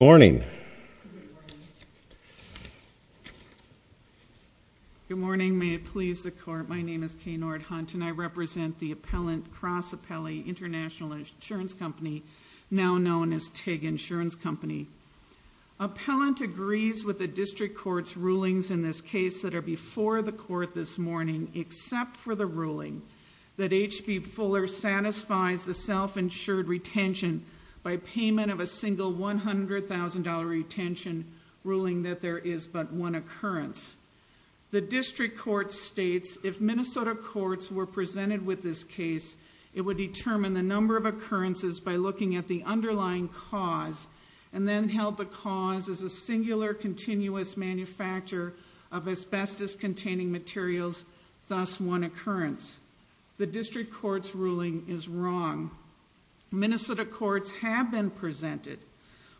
Good morning. Good morning. Good morning. May it please the Court, my name is Kay Nordhunt and I represent the Appellant Cross Appellee International Insurance Company, now known as TIG Insurance Company. Appellant agrees with the District Court's rulings in this case that are before the Court this morning, except for the ruling that H.B. Fuller Company v. International Insurance Company has a $1,000 retention ruling that there is but one occurrence. The District Court states, if Minnesota courts were presented with this case, it would determine the number of occurrences by looking at the underlying cause and then held the cause as a singular continuous manufacturer of asbestos-containing materials, thus one occurrence. The District Court's ruling is wrong. Minnesota courts have been presented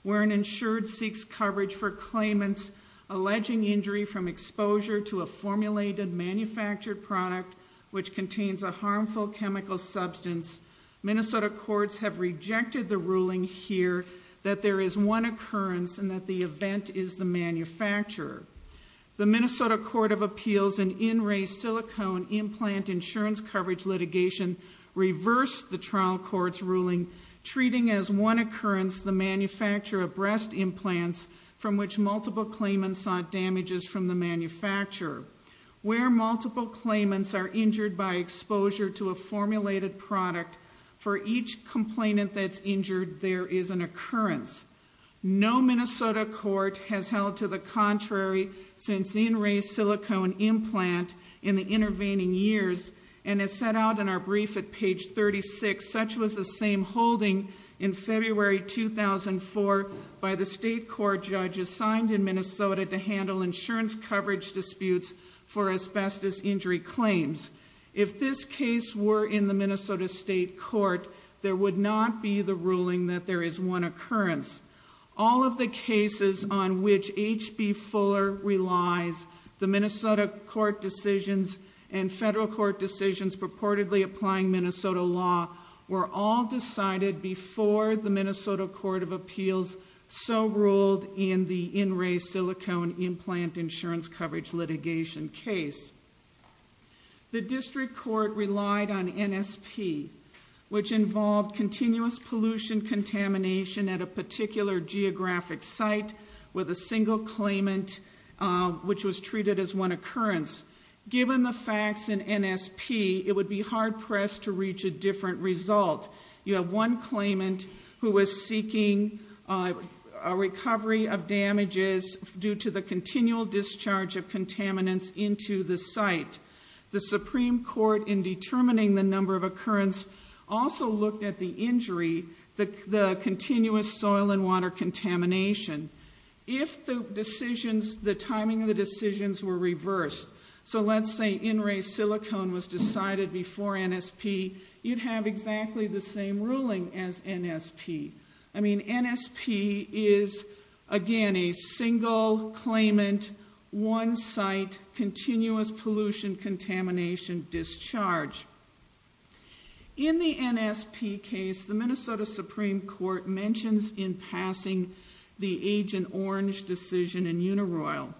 where an insured seeks coverage for claimants alleging injury from exposure to a formulated manufactured product which contains a harmful chemical substance. Minnesota courts have rejected the ruling here that there is one occurrence and that the event is the manufacturer. The Minnesota Court of Appeals in in-ray silicone implant insurance coverage litigation reversed the trial court's ruling, treating as one occurrence the manufacturer of breast implants from which multiple claimants sought damages from the manufacturer. Where multiple claimants are injured by exposure to a formulated product, for each complainant that's injured, there is an occurrence. No Minnesota court has held to the contrary since the in-ray silicone implant in the intervening years, and as set out in our brief at page 36, such was the same holding in February 2004 by the state court judge assigned in Minnesota to handle insurance coverage disputes for asbestos injury claims. If this case were in the Minnesota state court, there would not be the ruling that there is one occurrence. All of the cases on which H.B. Fuller relies, the Minnesota court decisions and federal court decisions purportedly applying Minnesota law were all decided before the Minnesota Court of Appeals so ruled in the in-ray silicone implant insurance coverage litigation case. The district court relied on NSP, which involved continuous pollution contamination at a particular geographic site with a single claimant which was treated as one occurrence. Given the facts in NSP, it would be hard pressed to reach a different result. You have one claimant who was seeking a recovery of damages due to the continual discharge of contaminants into the site. The Supreme Court in determining the number of occurrence also looked at the injury, the continuous soil and water contamination. If the timing of the decisions were reversed, so let's say in-ray silicone was decided before NSP, you'd have exactly the same ruling as NSP. I mean, NSP is, again, a single claimant, one site, continuous pollution contamination discharge. In the NSP case, the Minnesota Supreme Court mentions in passing the Agent Orange decision in Unaroyal.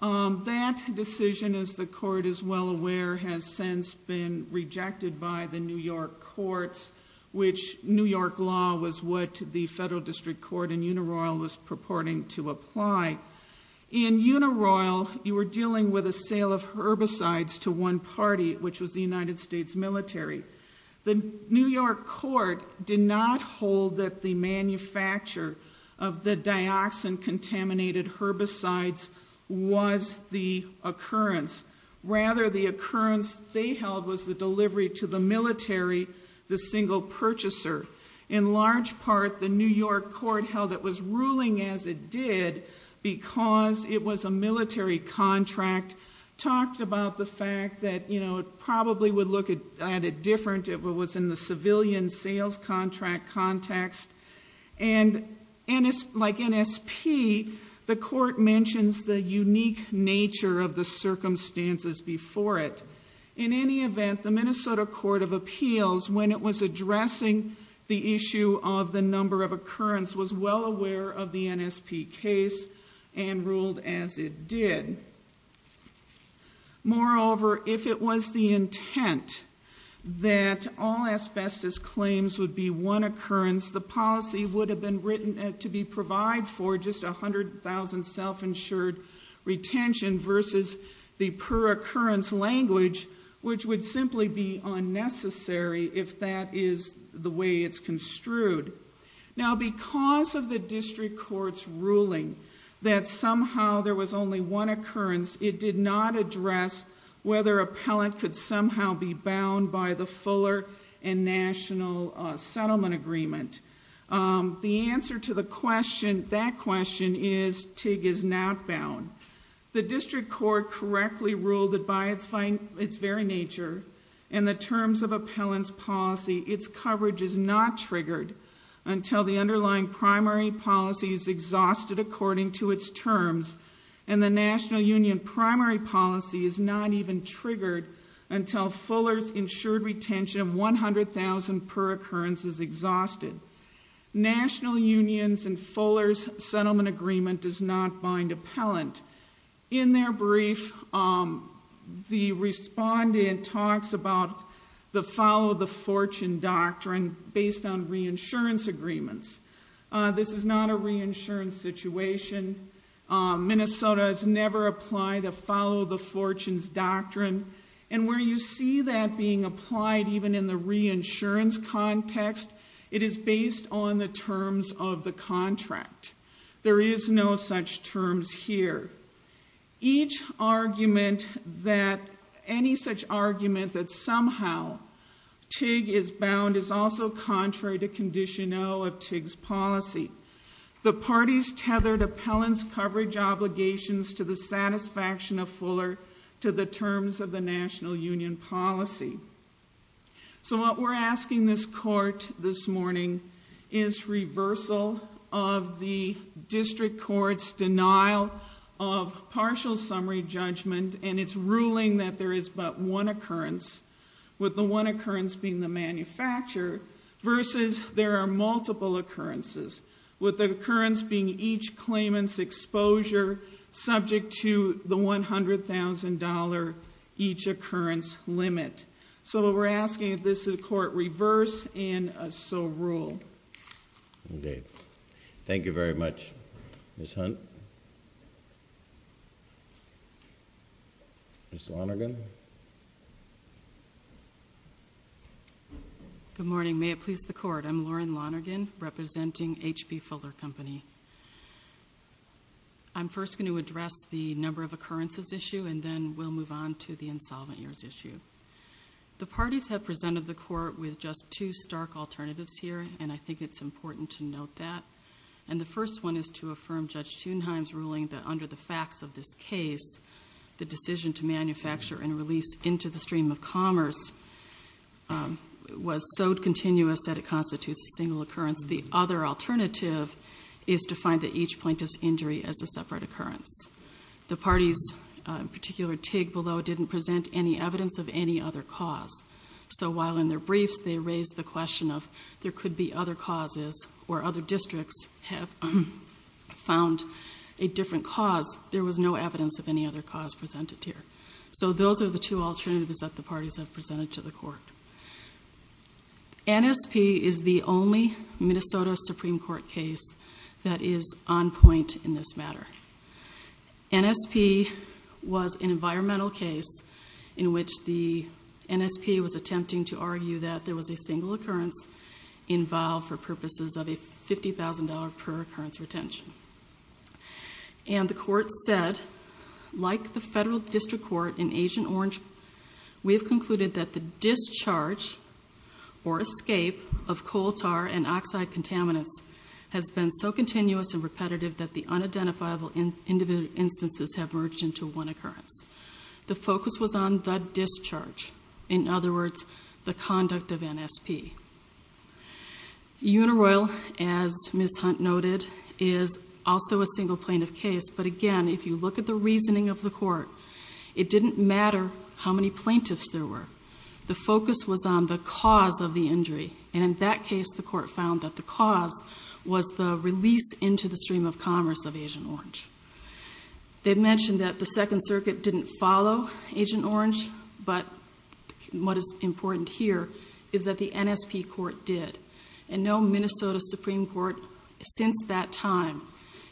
That decision, as the court is well aware, has since been rejected by the New York courts, which New York law was what the federal district court in Unaroyal was purporting to apply. In Unaroyal, you were dealing with a sale of herbicides to one party, which was the United States military. The New York court did not hold that the manufacture of the dioxin contaminated herbicides was the occurrence. Rather, the occurrence they held was the delivery to the military, the single purchaser. In large part, the New York court held it was ruling as it did because it was a military contract. Talked about the fact that it probably would look at it different if it was in the civilian sales contract context. Like NSP, the court mentions the unique nature of the circumstances before it. In any event, the Minnesota Court of Appeals, when it was addressing the issue of the number of occurrence, was well aware of the NSP case and ruled as it did. Moreover, if it was the intent that all asbestos claims would be one occurrence, the policy would have been written to be provided for just 100,000 self-insured retention versus the per-occurrence language, which would simply be unnecessary if that is the way it's construed. Now, because of the district court's ruling that somehow there was only one occurrence, it did not address whether a pellet could somehow be bound by the Fuller and National Settlement Agreement. The answer to that question is TIG is not bound. The district court correctly ruled that by its very nature and the terms of appellant's policy, its coverage is not triggered until the underlying primary policy is exhausted according to its terms. And the National Union primary policy is not even triggered until Fuller's insured retention of 100,000 per occurrence is exhausted. National Unions and Fuller's settlement agreement does not bind appellant. In their brief, the respondent talks about the follow the fortune doctrine based on reinsurance agreements. This is not a reinsurance situation. Minnesota has never applied the follow the fortunes doctrine. And where you see that being applied even in the reinsurance context, it is based on the terms of the contract. There is no such terms here. Each argument that, any such argument that somehow TIG is bound is also contrary to condition O of TIG's policy. The parties tethered appellant's coverage obligations to the satisfaction of Fuller to the terms of the National Union policy. So what we're asking this court this morning is reversal of the district court's denial of partial summary judgment. And it's ruling that there is but one occurrence. With the one occurrence being the manufacturer versus there are multiple occurrences with the occurrence being each claimant's exposure subject to the $100,000 each occurrence limit. So what we're asking of this is a court reverse and a so rule. Okay. Thank you very much. Ms. Hunt. Ms. Lonergan. Good morning. May it please the court. I'm Lauren Lonergan, representing H.P. Fuller Company. I'm first going to address the number of occurrences issue and then we'll move on to the insolvent years issue. The parties have presented the court with just two stark alternatives here and I think it's important to note that. And the first one is to affirm Judge Thunheim's ruling that under the facts of this case, the decision to manufacture and release into the stream of commerce was so continuous that it constitutes a single occurrence. The other alternative is to find that each plaintiff's injury as a separate occurrence. The parties, in particular TIG below, didn't present any evidence of any other cause. So while in their briefs they raised the question of there could be other causes or other districts have found a different cause, there was no evidence of any other cause presented here. So those are the two alternatives that the parties have presented to the court. NSP is the only Minnesota Supreme Court case that is on point in this matter. NSP was an environmental case in which the NSP was attempting to argue that there was a single occurrence involved for purposes of a $50,000 per occurrence retention. And the court said, like the federal district court in Agent Orange, we have concluded that the discharge or escape of coal tar and oxide contaminants has been so continuous and repetitive that the unidentifiable individual instances have merged into one occurrence. The focus was on the discharge, in other words, the conduct of NSP. Unaroyal, as Ms. Hunt noted, is also a single plaintiff case. But again, if you look at the reasoning of the court, it didn't matter how many plaintiffs there were. The focus was on the cause of the injury. And in that case, the court found that the cause was the release into the stream of commerce of Agent Orange. They mentioned that the Second Circuit didn't follow Agent Orange, but what is important here is that the NSP court did. And no Minnesota Supreme Court since that time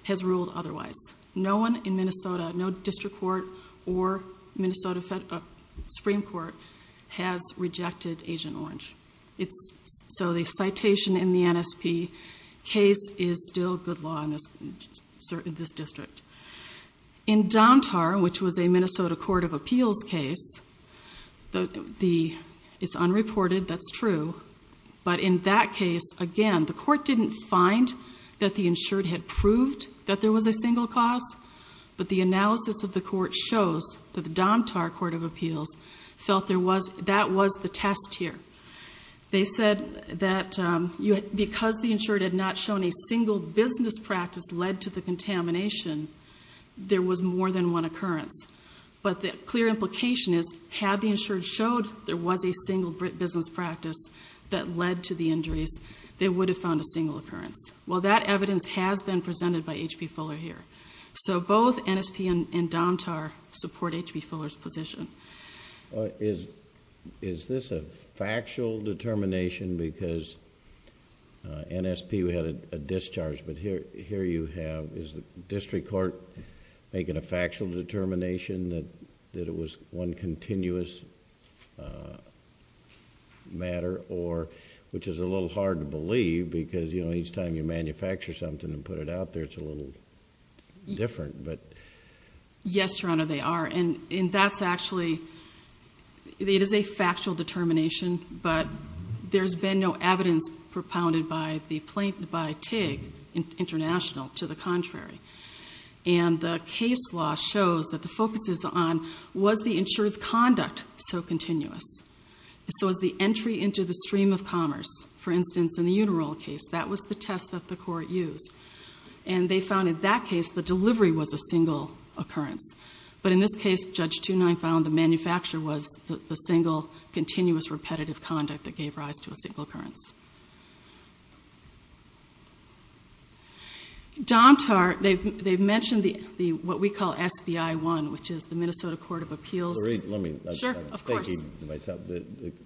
has ruled otherwise. No one in Minnesota, no district court or Minnesota Supreme Court has rejected Agent Orange. So the citation in the NSP case is still good law in this district. In Domtar, which was a Minnesota Court of Appeals case, it's unreported, that's true. But in that case, again, the court didn't find that the insured had proved that there was a single cause. But the analysis of the court shows that the Domtar Court of Appeals felt that was the test here. They said that because the insured had not shown a single business practice led to the contamination, there was more than one occurrence. But the clear implication is, had the insured showed there was a single business practice that led to the injuries, they would have found a single occurrence. Well, that evidence has been presented by H.P. Fuller here. So both NSP and Domtar support H.P. Fuller's position. Is this a factual determination because NSP had a discharge, but here you have, is the district court making a factual determination that it was one continuous matter or, which is a little hard to believe because each time you manufacture something and put it out there, it's a little different, but. Yes, Your Honor, they are, and that's actually, it is a factual determination, but there's been no evidence propounded by TIG International to the contrary. And the case law shows that the focus is on, was the insured's conduct so continuous? So is the entry into the stream of commerce, for instance, in the Unirol case, that was the test that the court used. And they found in that case, the delivery was a single occurrence. But in this case, Judge Two-Nine found the manufacturer was the single, continuous, repetitive conduct that gave rise to a single occurrence. Domtar, they've mentioned the, what we call SBI-1, which is the Minnesota Court of Appeals. Sure, of course. I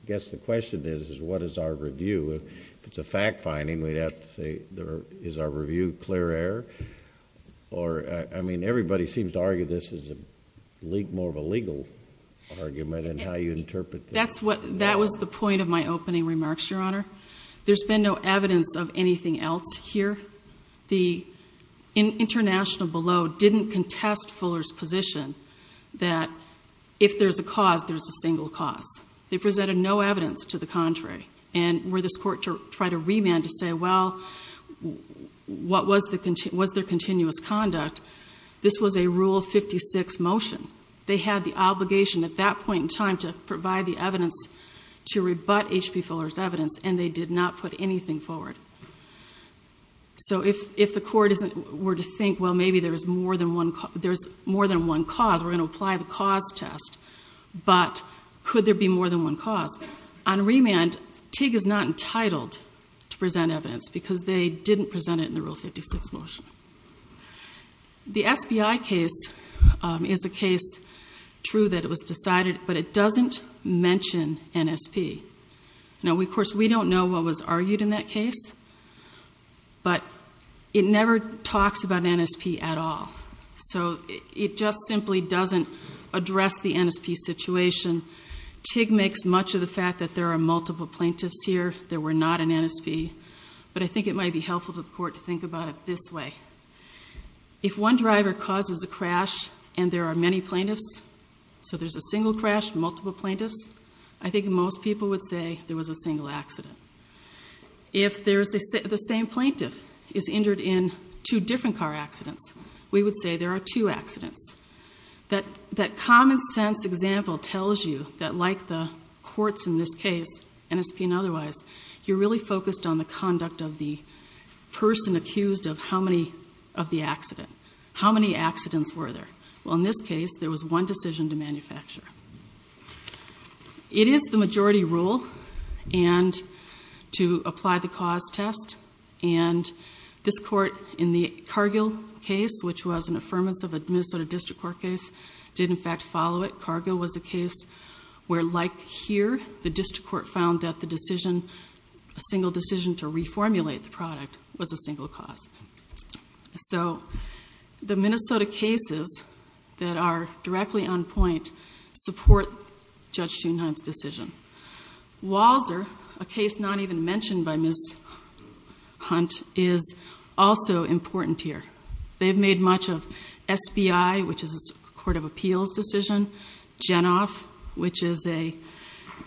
guess the question is, is what is our review? If it's a fact finding, we'd have to say, is our review clear air? Or, I mean, everybody seems to argue this is more of a legal argument in how you interpret this. That's what, that was the point of my opening remarks, Your Honor. There's been no evidence of anything else here. The International below didn't contest Fuller's position that if there's a cause, there's a single cause. They presented no evidence to the contrary. And were this court to try to remand to say, well, what was their continuous conduct? This was a Rule 56 motion. They had the obligation at that point in time to provide the evidence to rebut H.P. Fuller's evidence, and they did not put anything forward. So if the court were to think, well, maybe there's more than one cause, we're going to apply the cause test. But could there be more than one cause? On remand, TIG is not entitled to present evidence, because they didn't present it in the Rule 56 motion. The SBI case is a case, true, that it was decided, but it doesn't mention NSP. Now, of course, we don't know what was argued in that case, but it never talks about NSP at all. So it just simply doesn't address the NSP situation. TIG makes much of the fact that there are multiple plaintiffs here, there were not an NSP. But I think it might be helpful to the court to think about it this way. If one driver causes a crash and there are many plaintiffs, so there's a single crash, multiple plaintiffs. I think most people would say there was a single accident. If the same plaintiff is injured in two different car accidents, we would say there are two accidents. That common sense example tells you that like the courts in this case, NSP and otherwise, you're really focused on the conduct of the person accused of how many of the accident. How many accidents were there? Well, in this case, there was one decision to manufacture. It is the majority rule to apply the cause test. And this court in the Cargill case, which was an affirmance of a Minnesota district court case, did in fact follow it. Cargill was a case where like here, the district court found that the decision, a single decision to reformulate the product was a single cause. So the Minnesota cases that are directly on point support Judge Thunheim's decision. Walser, a case not even mentioned by Ms. Hunt, is also important here. They've made much of SBI, which is a court of appeals decision, Genoff, which is a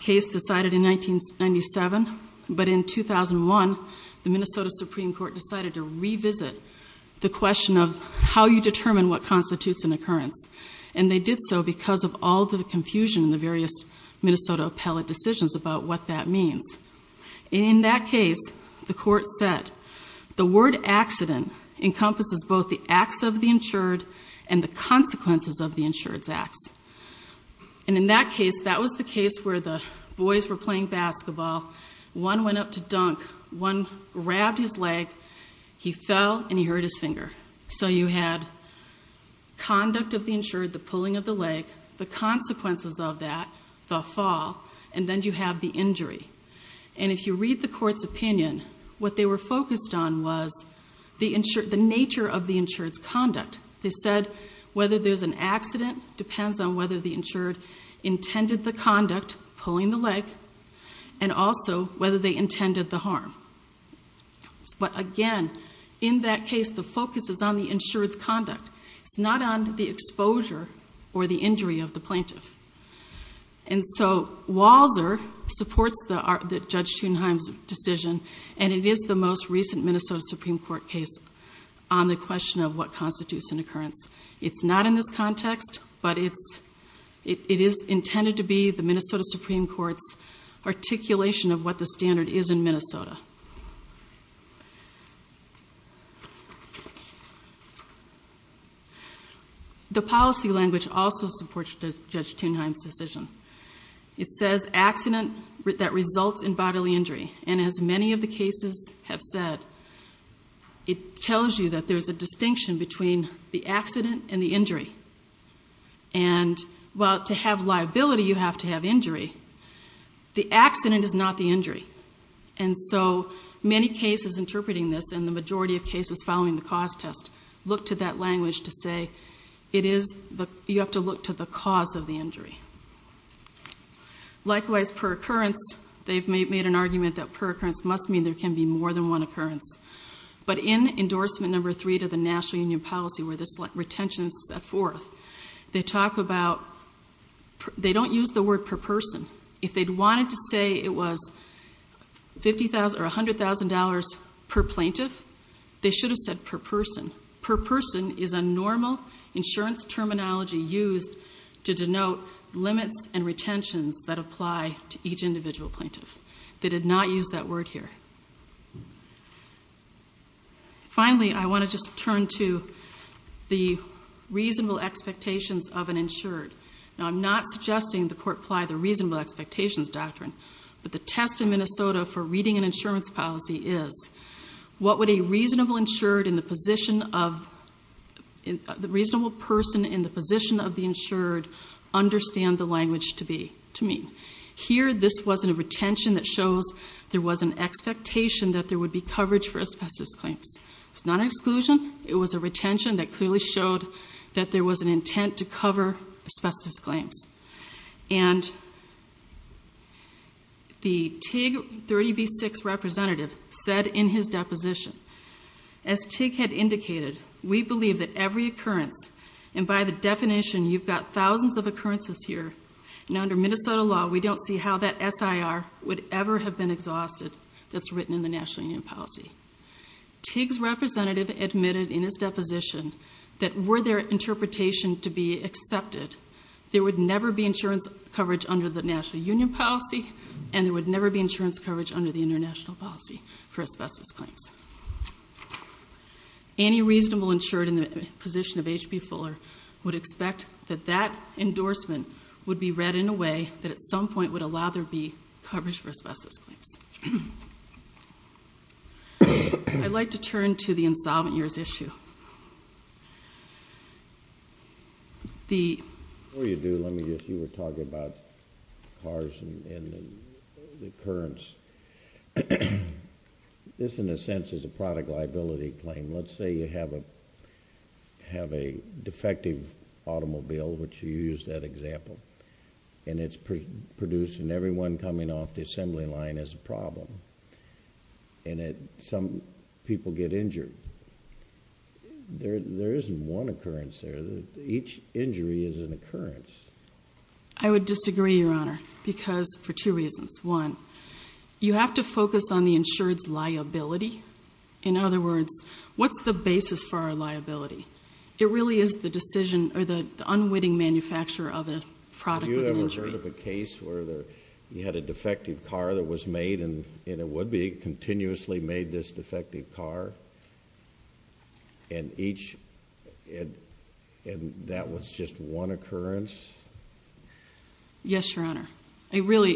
case decided in 1997. But in 2001, the Minnesota Supreme Court decided to revisit the question of how you determine what constitutes an occurrence. And they did so because of all the confusion in the various Minnesota appellate decisions about what that means. In that case, the court said, the word accident encompasses both the acts of the insured and the consequences of the insured's acts. And in that case, that was the case where the boys were playing basketball. One went up to dunk, one grabbed his leg, he fell and he hurt his finger. So you had conduct of the insured, the pulling of the leg, the consequences of that, the fall, and then you have the injury. And if you read the court's opinion, what they were focused on was the nature of the insured's conduct. They said whether there's an accident depends on whether the insured intended the conduct, pulling the leg, and also whether they intended the harm. But again, in that case, the focus is on the insured's conduct. It's not on the exposure or the injury of the plaintiff. And so, Walser supports Judge Thunheim's decision, and it is the most recent Minnesota Supreme Court case on the question of what constitutes an occurrence. It's not in this context, but it is intended to be the Minnesota Supreme Court's articulation of what the standard is in Minnesota. The policy language also supports Judge Thunheim's decision. It says accident that results in bodily injury. And as many of the cases have said, it tells you that there's a distinction between the accident and the injury. And well, to have liability, you have to have injury. The accident is not the injury. And so, many cases interpreting this, and the majority of cases following the cause test, look to that language to say, you have to look to the cause of the injury. Likewise, per occurrence, they've made an argument that per occurrence must mean there can be more than one occurrence. But in endorsement number three to the National Union Policy, where this retention is set forth, they talk about, they don't use the word per person. If they'd wanted to say it was $50,000 or $100,000 per plaintiff, they should have said per person. Per person is a normal insurance terminology used to denote limits and retentions that apply to each individual plaintiff. They did not use that word here. Finally, I want to just turn to the reasonable expectations of an insured. Now, I'm not suggesting the court apply the reasonable expectations doctrine. But the test in Minnesota for reading an insurance policy is, what would a reasonable insured in the position of, the reasonable person in the position of the insured understand the language to mean? Here, this wasn't a retention that shows there was an expectation that there would be coverage for asbestos claims. It's not an exclusion, it was a retention that clearly showed that there was an intent to cover asbestos claims. And the TIG 30B6 representative said in his deposition, as TIG had indicated, we believe that every occurrence, and by the definition, you've got thousands of occurrences here, and under Minnesota law, we don't see how that SIR would ever have been exhausted that's written in the National Union Policy. TIG's representative admitted in his deposition that were their interpretation to be accepted, there would never be insurance coverage under the National Union Policy, and there would never be insurance coverage under the International Policy for asbestos claims. Any reasonable insured in the position of HB Fuller would expect that that endorsement would be read in a way that at some point would allow there to be coverage for asbestos claims. I'd like to turn to the insolvent years issue. The- Insurance is a product liability claim. Let's say you have a defective automobile, which you used that example, and it's producing everyone coming off the assembly line as a problem, and some people get injured, there isn't one occurrence there. Each injury is an occurrence. I would disagree, Your Honor, because for two reasons. One, you have to focus on the insured's liability. In other words, what's the basis for our liability? It really is the decision, or the unwitting manufacturer of a product of an injury. Have you ever heard of a case where you had a defective car that was made, and it would be, continuously made this defective car, and each, and that was just one occurrence? Yes, Your Honor. It really,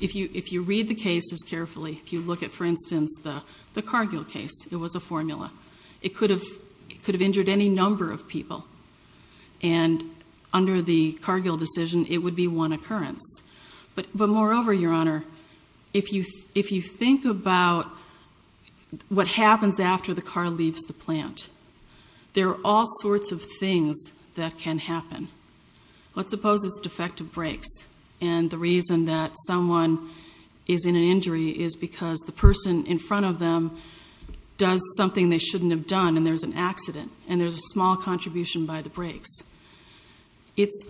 if you read the cases carefully, if you look at, for instance, the Cargill case, it was a formula. It could have injured any number of people, and under the Cargill decision, it would be one occurrence. But moreover, Your Honor, if you think about what happens after the car leaves the plant, there are all sorts of things that can happen. Let's suppose it's defective brakes. And the reason that someone is in an injury is because the person in front of them does something they shouldn't have done, and there's an accident, and there's a small contribution by the brakes. It's,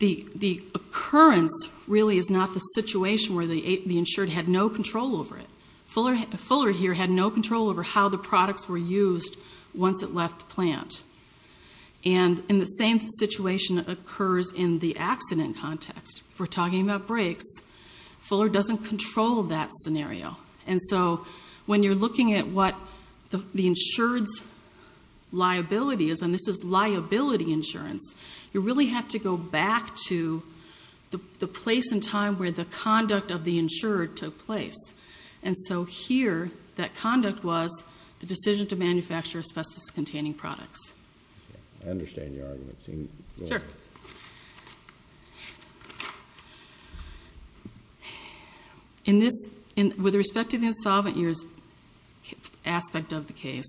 the occurrence really is not the situation where the insured had no control over it. Fuller here had no control over how the products were used once it left the plant. And in the same situation that occurs in the accident context, we're talking about brakes, Fuller doesn't control that scenario. And so, when you're looking at what the insured's liability is, and this is liability insurance, you really have to go back to the place and time where the conduct of the insured took place. And so here, that conduct was the decision to manufacture asbestos containing products. I understand your argument. Sure. In this, with respect to the insolvent years aspect of the case,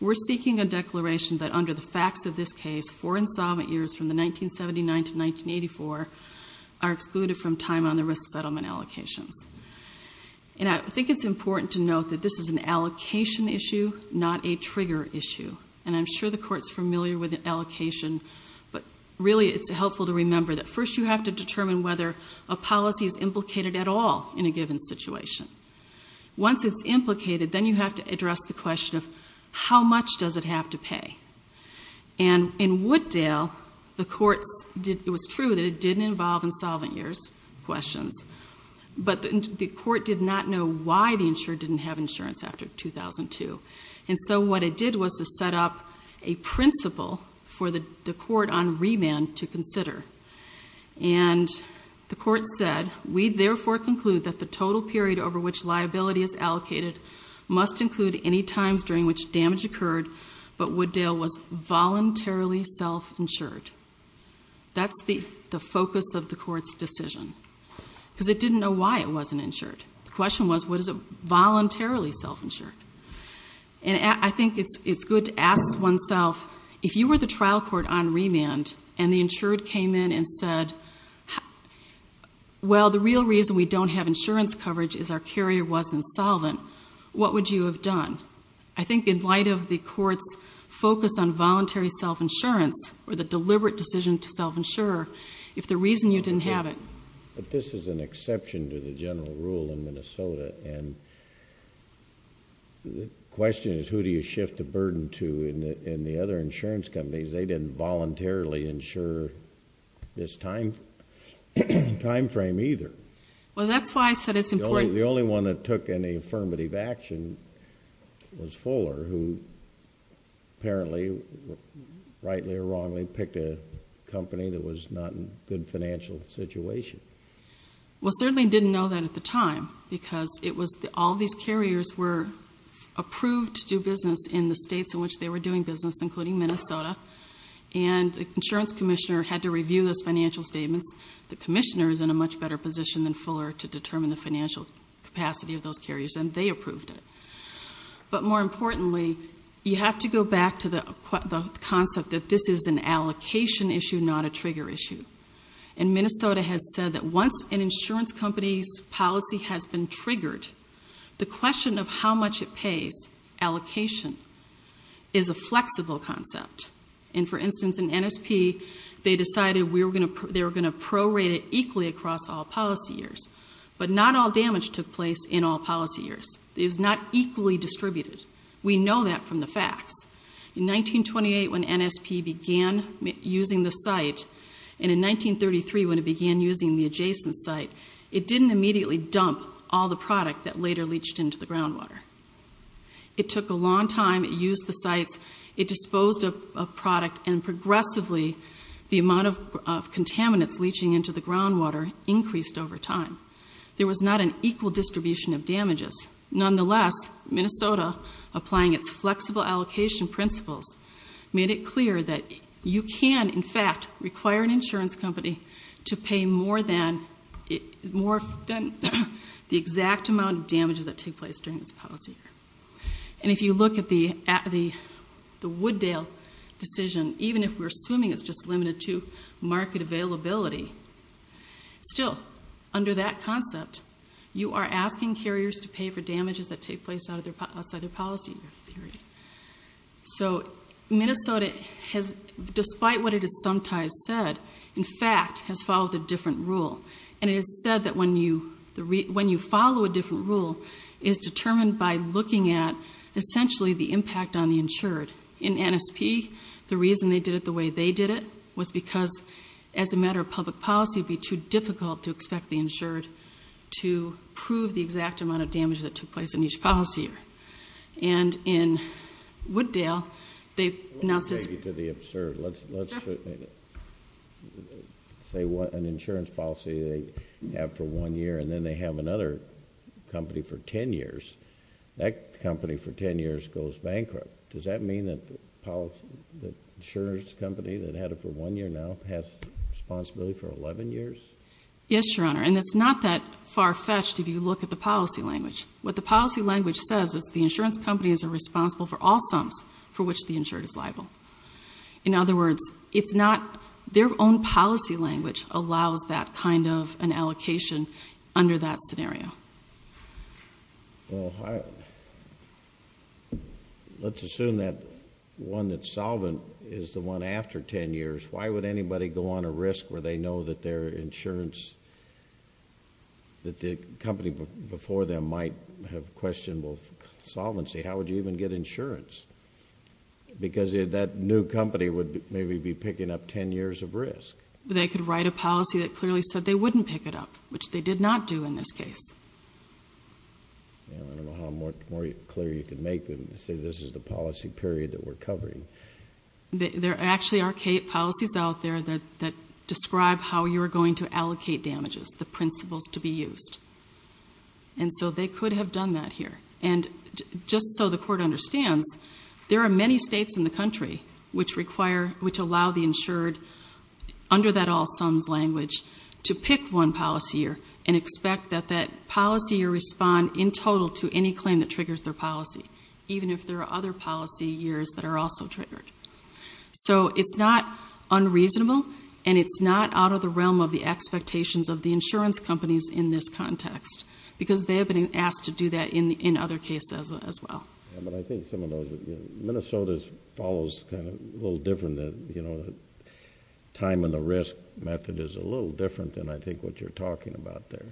we're seeking a declaration that under the facts of this case, four insolvent years from the 1979 to And I think it's important to note that this is an allocation issue, not a trigger issue. And I'm sure the court's familiar with the allocation. But really, it's helpful to remember that first you have to determine whether a policy is implicated at all in a given situation. Once it's implicated, then you have to address the question of how much does it have to pay? And in Wooddale, the courts, it was true that it didn't involve insolvent years questions. But the court did not know why the insured didn't have insurance after 2002. And so what it did was to set up a principle for the court on remand to consider. And the court said, we therefore conclude that the total period over which liability is allocated must include any times during which damage occurred, but Wooddale was voluntarily self-insured. That's the focus of the court's decision, because it didn't know why it wasn't insured. The question was, what is it voluntarily self-insured? And I think it's good to ask oneself, if you were the trial court on remand and the insured came in and said, well, the real reason we don't have insurance coverage is our carrier was insolvent. What would you have done? I think in light of the court's focus on voluntary self-insurance, or the deliberate decision to self-insure, if the reason you didn't have it. But this is an exception to the general rule in Minnesota. And the question is, who do you shift the burden to in the other insurance companies? They didn't voluntarily insure this time frame either. Well, that's why I said it's important. The only one that took any affirmative action was Fuller, who apparently, rightly or wrongly, picked a company that was not in a good financial situation. Well, certainly didn't know that at the time, because all these carriers were approved to do business in the states in which they were doing business, including Minnesota. And the insurance commissioner had to review those financial statements. The commissioner is in a much better position than Fuller to determine the financial capacity of those carriers, and they approved it. But more importantly, you have to go back to the concept that this is an allocation issue, not a trigger issue. And Minnesota has said that once an insurance company's policy has been triggered, the question of how much it pays, allocation, is a flexible concept. And for instance, in NSP, they decided they were going to prorate it equally across all policy years. But not all damage took place in all policy years. It was not equally distributed. We know that from the facts. In 1928, when NSP began using the site, and in 1933, when it began using the adjacent site, it didn't immediately dump all the product that later leached into the groundwater. It took a long time, it used the sites. It disposed of product, and progressively, the amount of contaminants leaching into the groundwater increased over time. There was not an equal distribution of damages. Nonetheless, Minnesota, applying its flexible allocation principles, made it clear that you can, in fact, require an insurance company to pay more than the exact amount of damages that take place during this policy year. And if you look at the Wooddale decision, even if we're assuming it's just limited to market availability, still, under that concept, you are asking carriers to pay for damages that take place outside their policy year, period. So, Minnesota has, despite what it has sometimes said, in fact, has followed a different rule. And it is said that when you follow a different rule, it is determined by looking at, essentially, the impact on the insured. In NSP, the reason they did it the way they did it was because, as a matter of public policy, it would be too difficult to expect the insured to prove the exact amount of damage that took place in each policy year. And in Wooddale, they've announced this- To the absurd, let's say an insurance policy they have for one year, and then they have another company for ten years, that company for ten years goes bankrupt. Does that mean that the insurance company that had it for one year now has responsibility for 11 years? Yes, Your Honor, and it's not that far-fetched if you look at the policy language. What the policy language says is the insurance company is responsible for all sums for which the insured is liable. In other words, it's not, their own policy language allows that kind of an allocation under that scenario. Well, let's assume that one that's solvent is the one after ten years. Why would anybody go on a risk where they know that their insurance, that the company before them might have questionable solvency? How would you even get insurance? Because that new company would maybe be picking up ten years of risk. They could write a policy that clearly said they wouldn't pick it up, which they did not do in this case. I don't know how more clear you could make them to say this is the policy period that we're covering. There actually are policies out there that describe how you're going to allocate damages, the principles to be used. And so they could have done that here. And just so the court understands, there are many states in the country which require, which allow the insured under that all sums language to pick one policy year and expect that that policy year respond in total to any claim that triggers their policy. Even if there are other policy years that are also triggered. So it's not unreasonable, and it's not out of the realm of the expectations of the insurance companies in this context. Because they have been asked to do that in other cases as well. But I think some of those, Minnesota follows kind of a little different than, you know, the time and the risk method is a little different than I think what you're talking about there.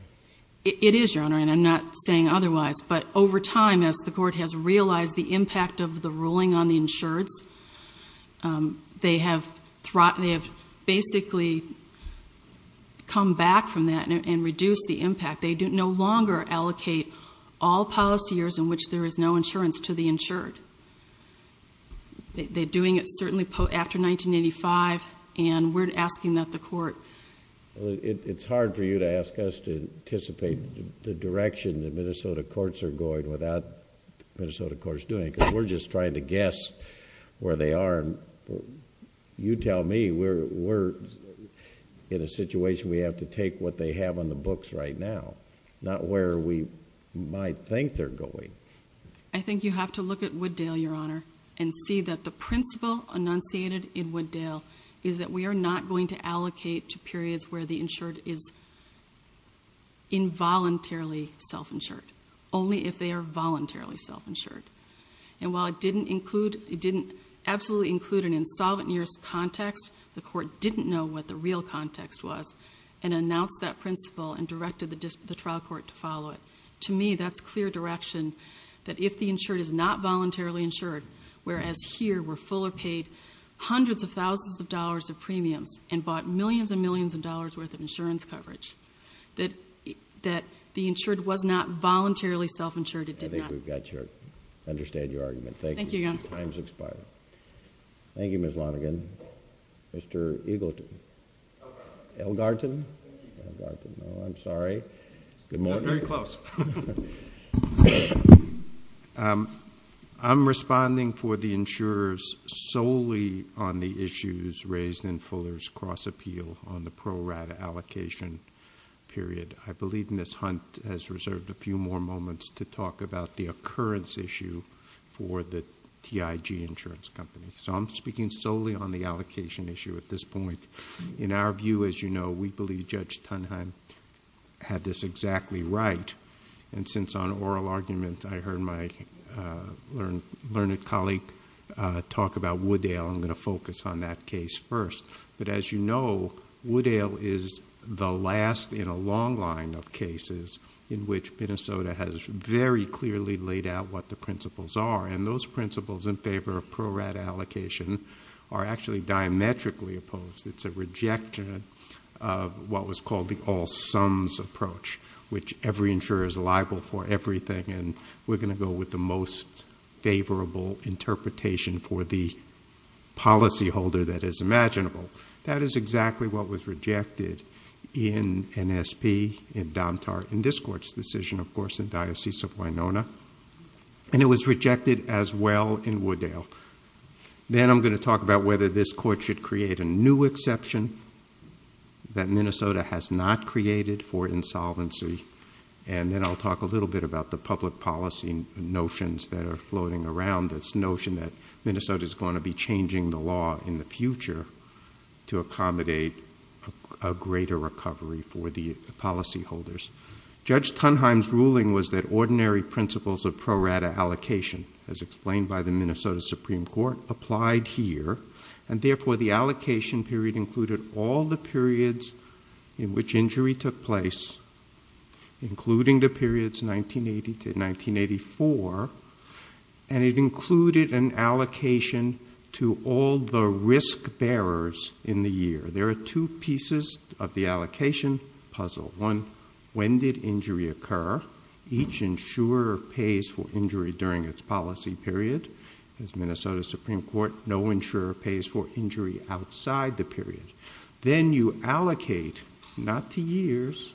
It is, Your Honor, and I'm not saying otherwise. But over time, as the court has realized the impact of the ruling on the insureds, they have basically come back from that and reduced the impact. They no longer allocate all policy years in which there is no insurance to the insured. They're doing it certainly after 1985, and we're asking that the court. Well, it's hard for you to ask us to anticipate the direction that Minnesota courts are going without Minnesota courts doing it. because we're just trying to guess where they are. You tell me, we're in a situation we have to take what they have on the books right now. Not where we might think they're going. I think you have to look at Wooddale, Your Honor, and see that the principle enunciated in Wooddale is that we are not going to allocate to periods where the insured is involuntarily self-insured. Only if they are voluntarily self-insured. And while it didn't absolutely include an insolvent years context, the court didn't know what the real context was and announced that principle and directed the trial court to follow it. To me, that's clear direction that if the insured is not voluntarily insured, whereas here we're fuller paid hundreds of thousands of dollars of premiums and bought millions and millions of dollars worth of insurance coverage, that the insured was not voluntarily self-insured, it did not. I think we've got your, understand your argument. Thank you. Thank you, Your Honor. Time's expired. Thank you, Ms. Lonergan. Mr. Eagleton. Elgarton. Elgarton? Thank you. Elgarton, no, I'm sorry. Good morning. Very close. I'm responding for the insurers solely on the issues raised in Fuller's cross appeal on the pro rata allocation period. I believe Ms. Hunt has reserved a few more moments to talk about the occurrence issue for the TIG insurance company. So I'm speaking solely on the allocation issue at this point. In our view, as you know, we believe Judge Tunheim had this exactly right. And since on oral argument I heard my learned colleague talk about Woodale, I'm going to focus on that case first. But as you know, Woodale is the last in a long line of cases in which Minnesota has very clearly laid out what the principles are. And those principles in favor of pro rata allocation are actually diametrically opposed. It's a rejection of what was called the all sums approach, which every insurer is liable for everything. And we're going to go with the most favorable interpretation for the policy holder that is imaginable. That is exactly what was rejected in NSP, in Domtar, in this court's decision, of course, in Diocese of Winona. And it was rejected as well in Woodale. Then I'm going to talk about whether this court should create a new exception that Minnesota has not created for insolvency. And then I'll talk a little bit about the public policy notions that are floating around. This notion that Minnesota's going to be changing the law in the future to accommodate a greater recovery for the policy holders. Judge Tunheim's ruling was that ordinary principles of pro rata allocation, as explained by the Minnesota Supreme Court, applied here. And therefore, the allocation period included all the periods in which injury took place, including the periods 1980 to 1984, and it included an allocation to all the risk bearers in the year. There are two pieces of the allocation puzzle. One, when did injury occur? Each insurer pays for injury during its policy period. As Minnesota Supreme Court, no insurer pays for injury outside the period. Then you allocate, not to years,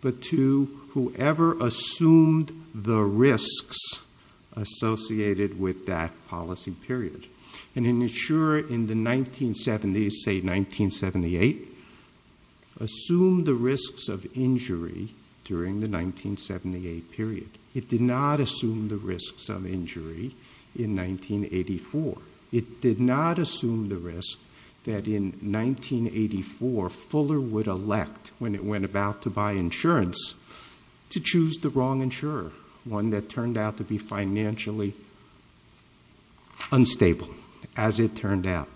but to whoever assumed the risks associated with that policy period. And an insurer in the 1970s, say 1978, assumed the risks of injury during the 1978 period. It did not assume the risks of injury in 1984. It did not assume the risk that in 1984, Fuller would elect, when it went about to buy insurance, to choose the wrong insurer. One that turned out to be financially unstable, as it turned out.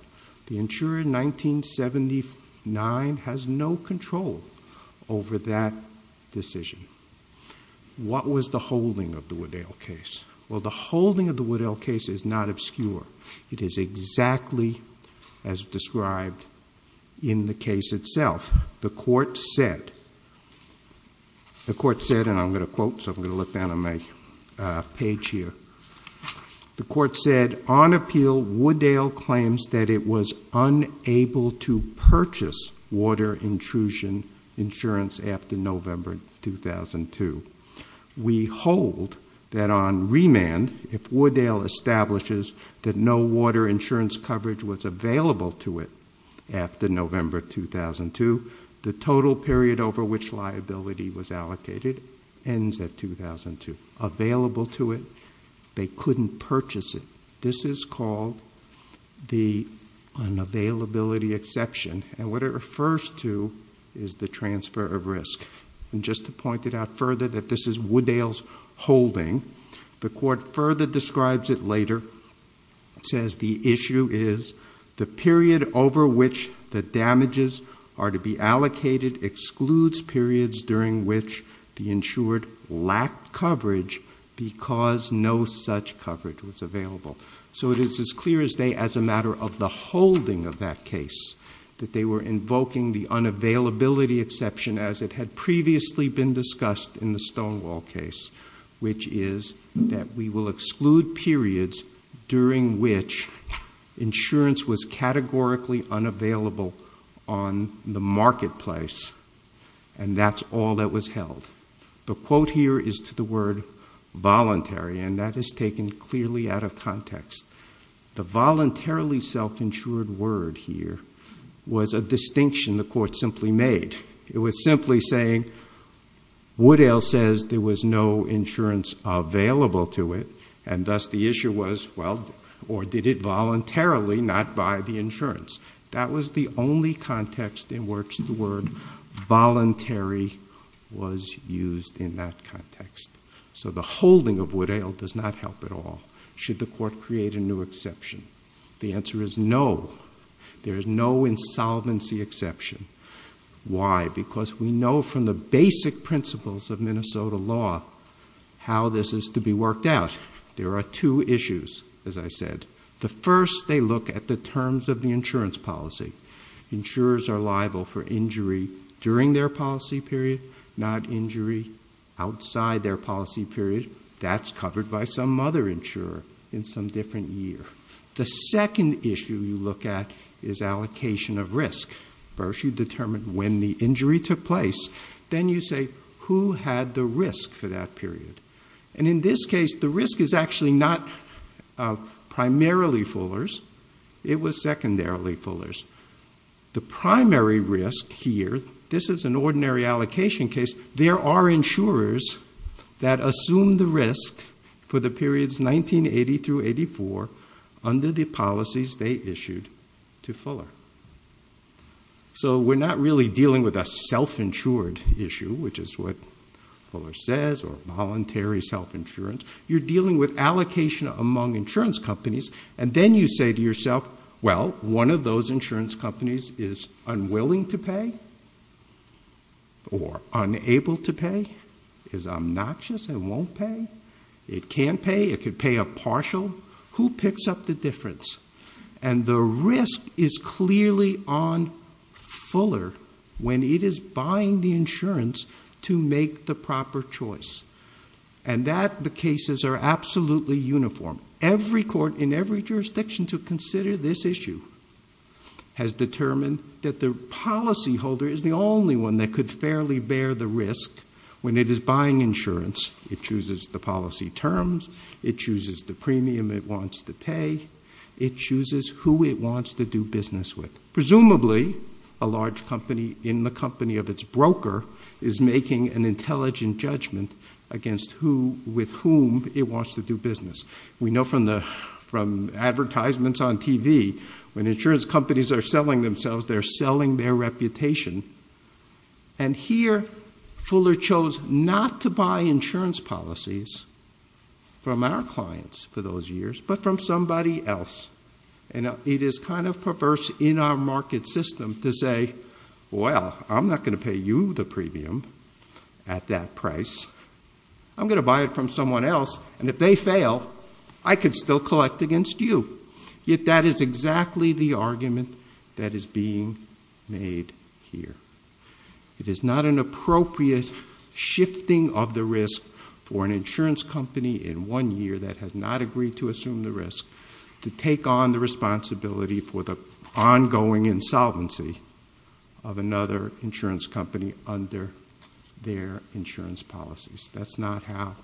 The insurer in 1979 has no control over that decision. What was the holding of the Woodell case? Well, the holding of the Woodell case is not obscure. It is exactly as described in the case itself. The court said, and I'm going to quote, so I'm going to look down on my page here. The court said, on appeal, Woodell claims that it was unable to purchase water intrusion insurance after November 2002. We hold that on remand, if Woodell establishes that no water insurance coverage was available to it after November 2002, the total period over which liability was allocated ends at 2002. Available to it, they couldn't purchase it. This is called the unavailability exception. And what it refers to is the transfer of risk. And just to point it out further, that this is Woodell's holding. The court further describes it later, says the issue is the period over which the damages are to be allocated excludes periods during which the insured lacked coverage because no such coverage was available. So it is as clear as day as a matter of the holding of that case, that they were invoking the unavailability exception as it had previously been discussed in the Stonewall case. Which is that we will exclude periods during which insurance was categorically unavailable on the marketplace. And that's all that was held. The quote here is to the word voluntary, and that is taken clearly out of context. The voluntarily self-insured word here was a distinction the court simply made. It was simply saying, Woodell says there was no insurance available to it. And thus the issue was, well, or did it voluntarily not buy the insurance? That was the only context in which the word voluntary was used in that context. So the holding of Woodell does not help at all. Should the court create a new exception? The answer is no. There is no insolvency exception. Why? Because we know from the basic principles of Minnesota law how this is to be worked out. There are two issues, as I said. The first, they look at the terms of the insurance policy. Insurers are liable for injury during their policy period, not injury outside their policy period. That's covered by some other insurer in some different year. The second issue you look at is allocation of risk. First you determine when the injury took place, then you say, who had the risk for that period? And in this case, the risk is actually not primarily Fuller's. It was secondarily Fuller's. The primary risk here, this is an ordinary allocation case. There are insurers that assume the risk for the periods 1980 through 84 under the policies they issued to Fuller. So we're not really dealing with a self-insured issue, which is what Fuller says, or voluntary self-insurance. You're dealing with allocation among insurance companies, and then you say to yourself, well, one of those insurance companies is unwilling to pay or unable to pay, is obnoxious and won't pay. It can pay, it could pay a partial. Who picks up the difference? And the risk is clearly on Fuller when it is buying the insurance to make the proper choice. And that the cases are absolutely uniform. Every court in every jurisdiction to consider this issue has determined that the policyholder is the only one that could fairly bear the risk when it is buying insurance. It chooses the policy terms. It chooses the premium it wants to pay. It chooses who it wants to do business with. Presumably, a large company in the company of its broker is making an intelligent judgment against with whom it wants to do business. We know from advertisements on TV, when insurance companies are selling themselves, they're selling their reputation. And here, Fuller chose not to buy insurance policies from our clients for those years, but from somebody else, and it is kind of perverse in our market system to say, well, I'm not going to pay you the premium at that price. I'm going to buy it from someone else, and if they fail, I could still collect against you. Yet that is exactly the argument that is being made here. It is not an appropriate shifting of the risk for an insurance company in one year that has not agreed to assume the risk to take on the responsibility for the ongoing insolvency of another insurance company under their insurance policies. That's not how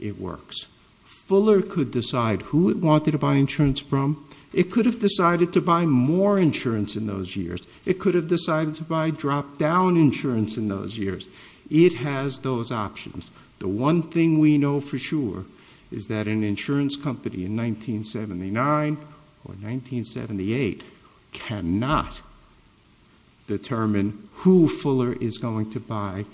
it works. Fuller could decide who it wanted to buy insurance from. It could have decided to buy more insurance in those years. It could have decided to buy drop down insurance in those years. It has those options. The one thing we know for sure is that an insurance company in 1979 or 1978 cannot determine who Fuller is going to buy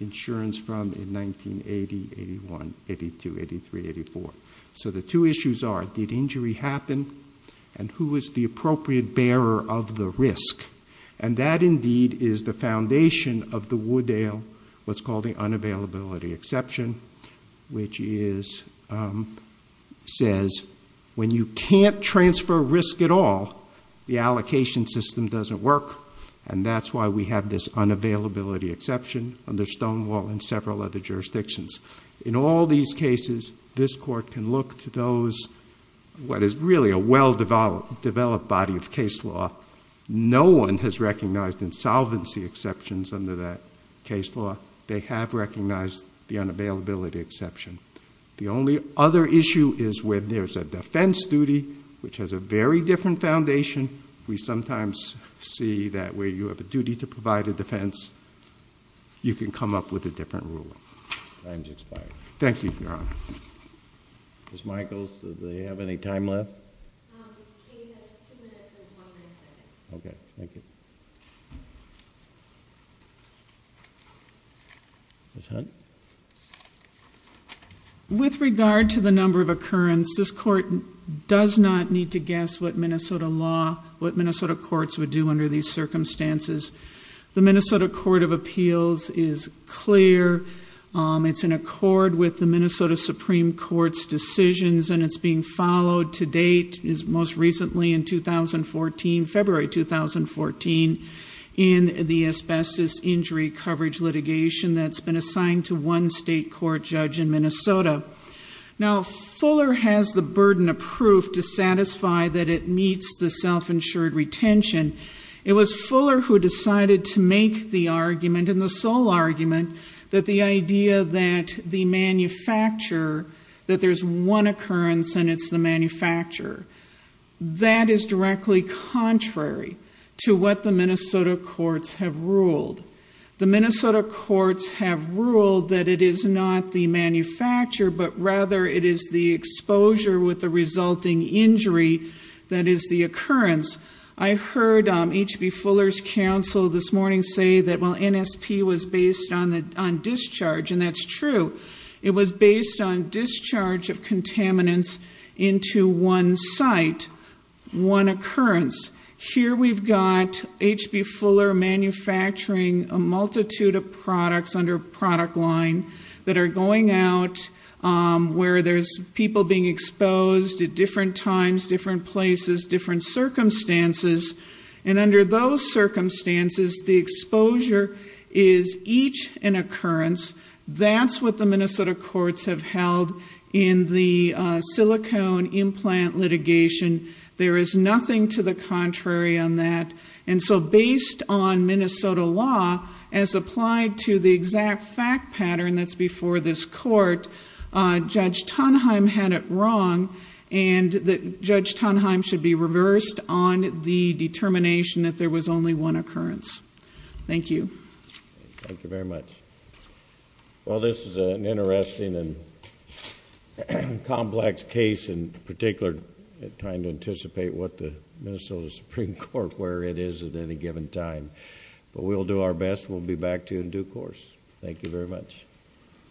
insurance from in 1980, 81, 82, 83, 84. So the two issues are, did injury happen? And who is the appropriate bearer of the risk? And that indeed is the foundation of the Woodale, what's called the unavailability exception, which says when you can't transfer risk at all, the allocation system doesn't work, and that's why we have this unavailability exception under Stonewall and several other jurisdictions. In all these cases, this court can look to those, what is really a well-developed body of case law. No one has recognized insolvency exceptions under that case law. They have recognized the unavailability exception. The only other issue is when there's a defense duty, which has a very different foundation. We sometimes see that where you have a duty to provide a defense, you can come up with a different rule. Time's expired. Thank you, Your Honor. Ms. Michaels, do they have any time left? Katie has two minutes and one minute second. Okay, thank you. Ms. Hunt? With regard to the number of occurrence, this court does not need to guess what Minnesota law, what Minnesota courts would do under these circumstances. The Minnesota Court of Appeals is clear. It's in accord with the Minnesota Supreme Court's decisions and it's being followed to date as most recently in 2014, February 2014, in the asbestos injury coverage litigation that's been assigned to one state court judge in Minnesota. Now, Fuller has the burden of proof to satisfy that it meets the self-insured retention. It was Fuller who decided to make the argument, and the sole argument, that the idea that the manufacturer, that there's one occurrence and it's the manufacturer. That is directly contrary to what the Minnesota courts have ruled. The Minnesota courts have ruled that it is not the manufacturer, but rather it is the exposure with the resulting injury that is the occurrence. I heard H.B. Fuller's counsel this morning say that while NSP was based on discharge, and that's true. It was based on discharge of contaminants into one site, one occurrence. Here we've got H.B. Fuller manufacturing a multitude of products under product line that are going out where there's people being exposed at different times, different places, different circumstances. And under those circumstances, the exposure is each an occurrence. That's what the Minnesota courts have held in the silicone implant litigation. There is nothing to the contrary on that. And so based on Minnesota law, as applied to the exact fact pattern that's before this court, Judge Tonheim had it wrong and that Judge Tonheim should be reversed on the determination that there was only one occurrence. Thank you. Thank you very much. Well, this is an interesting and complex case in particular, trying to anticipate what the Minnesota Supreme Court, where it is at any given time. But we'll do our best. We'll be back to you in due course. Thank you very much.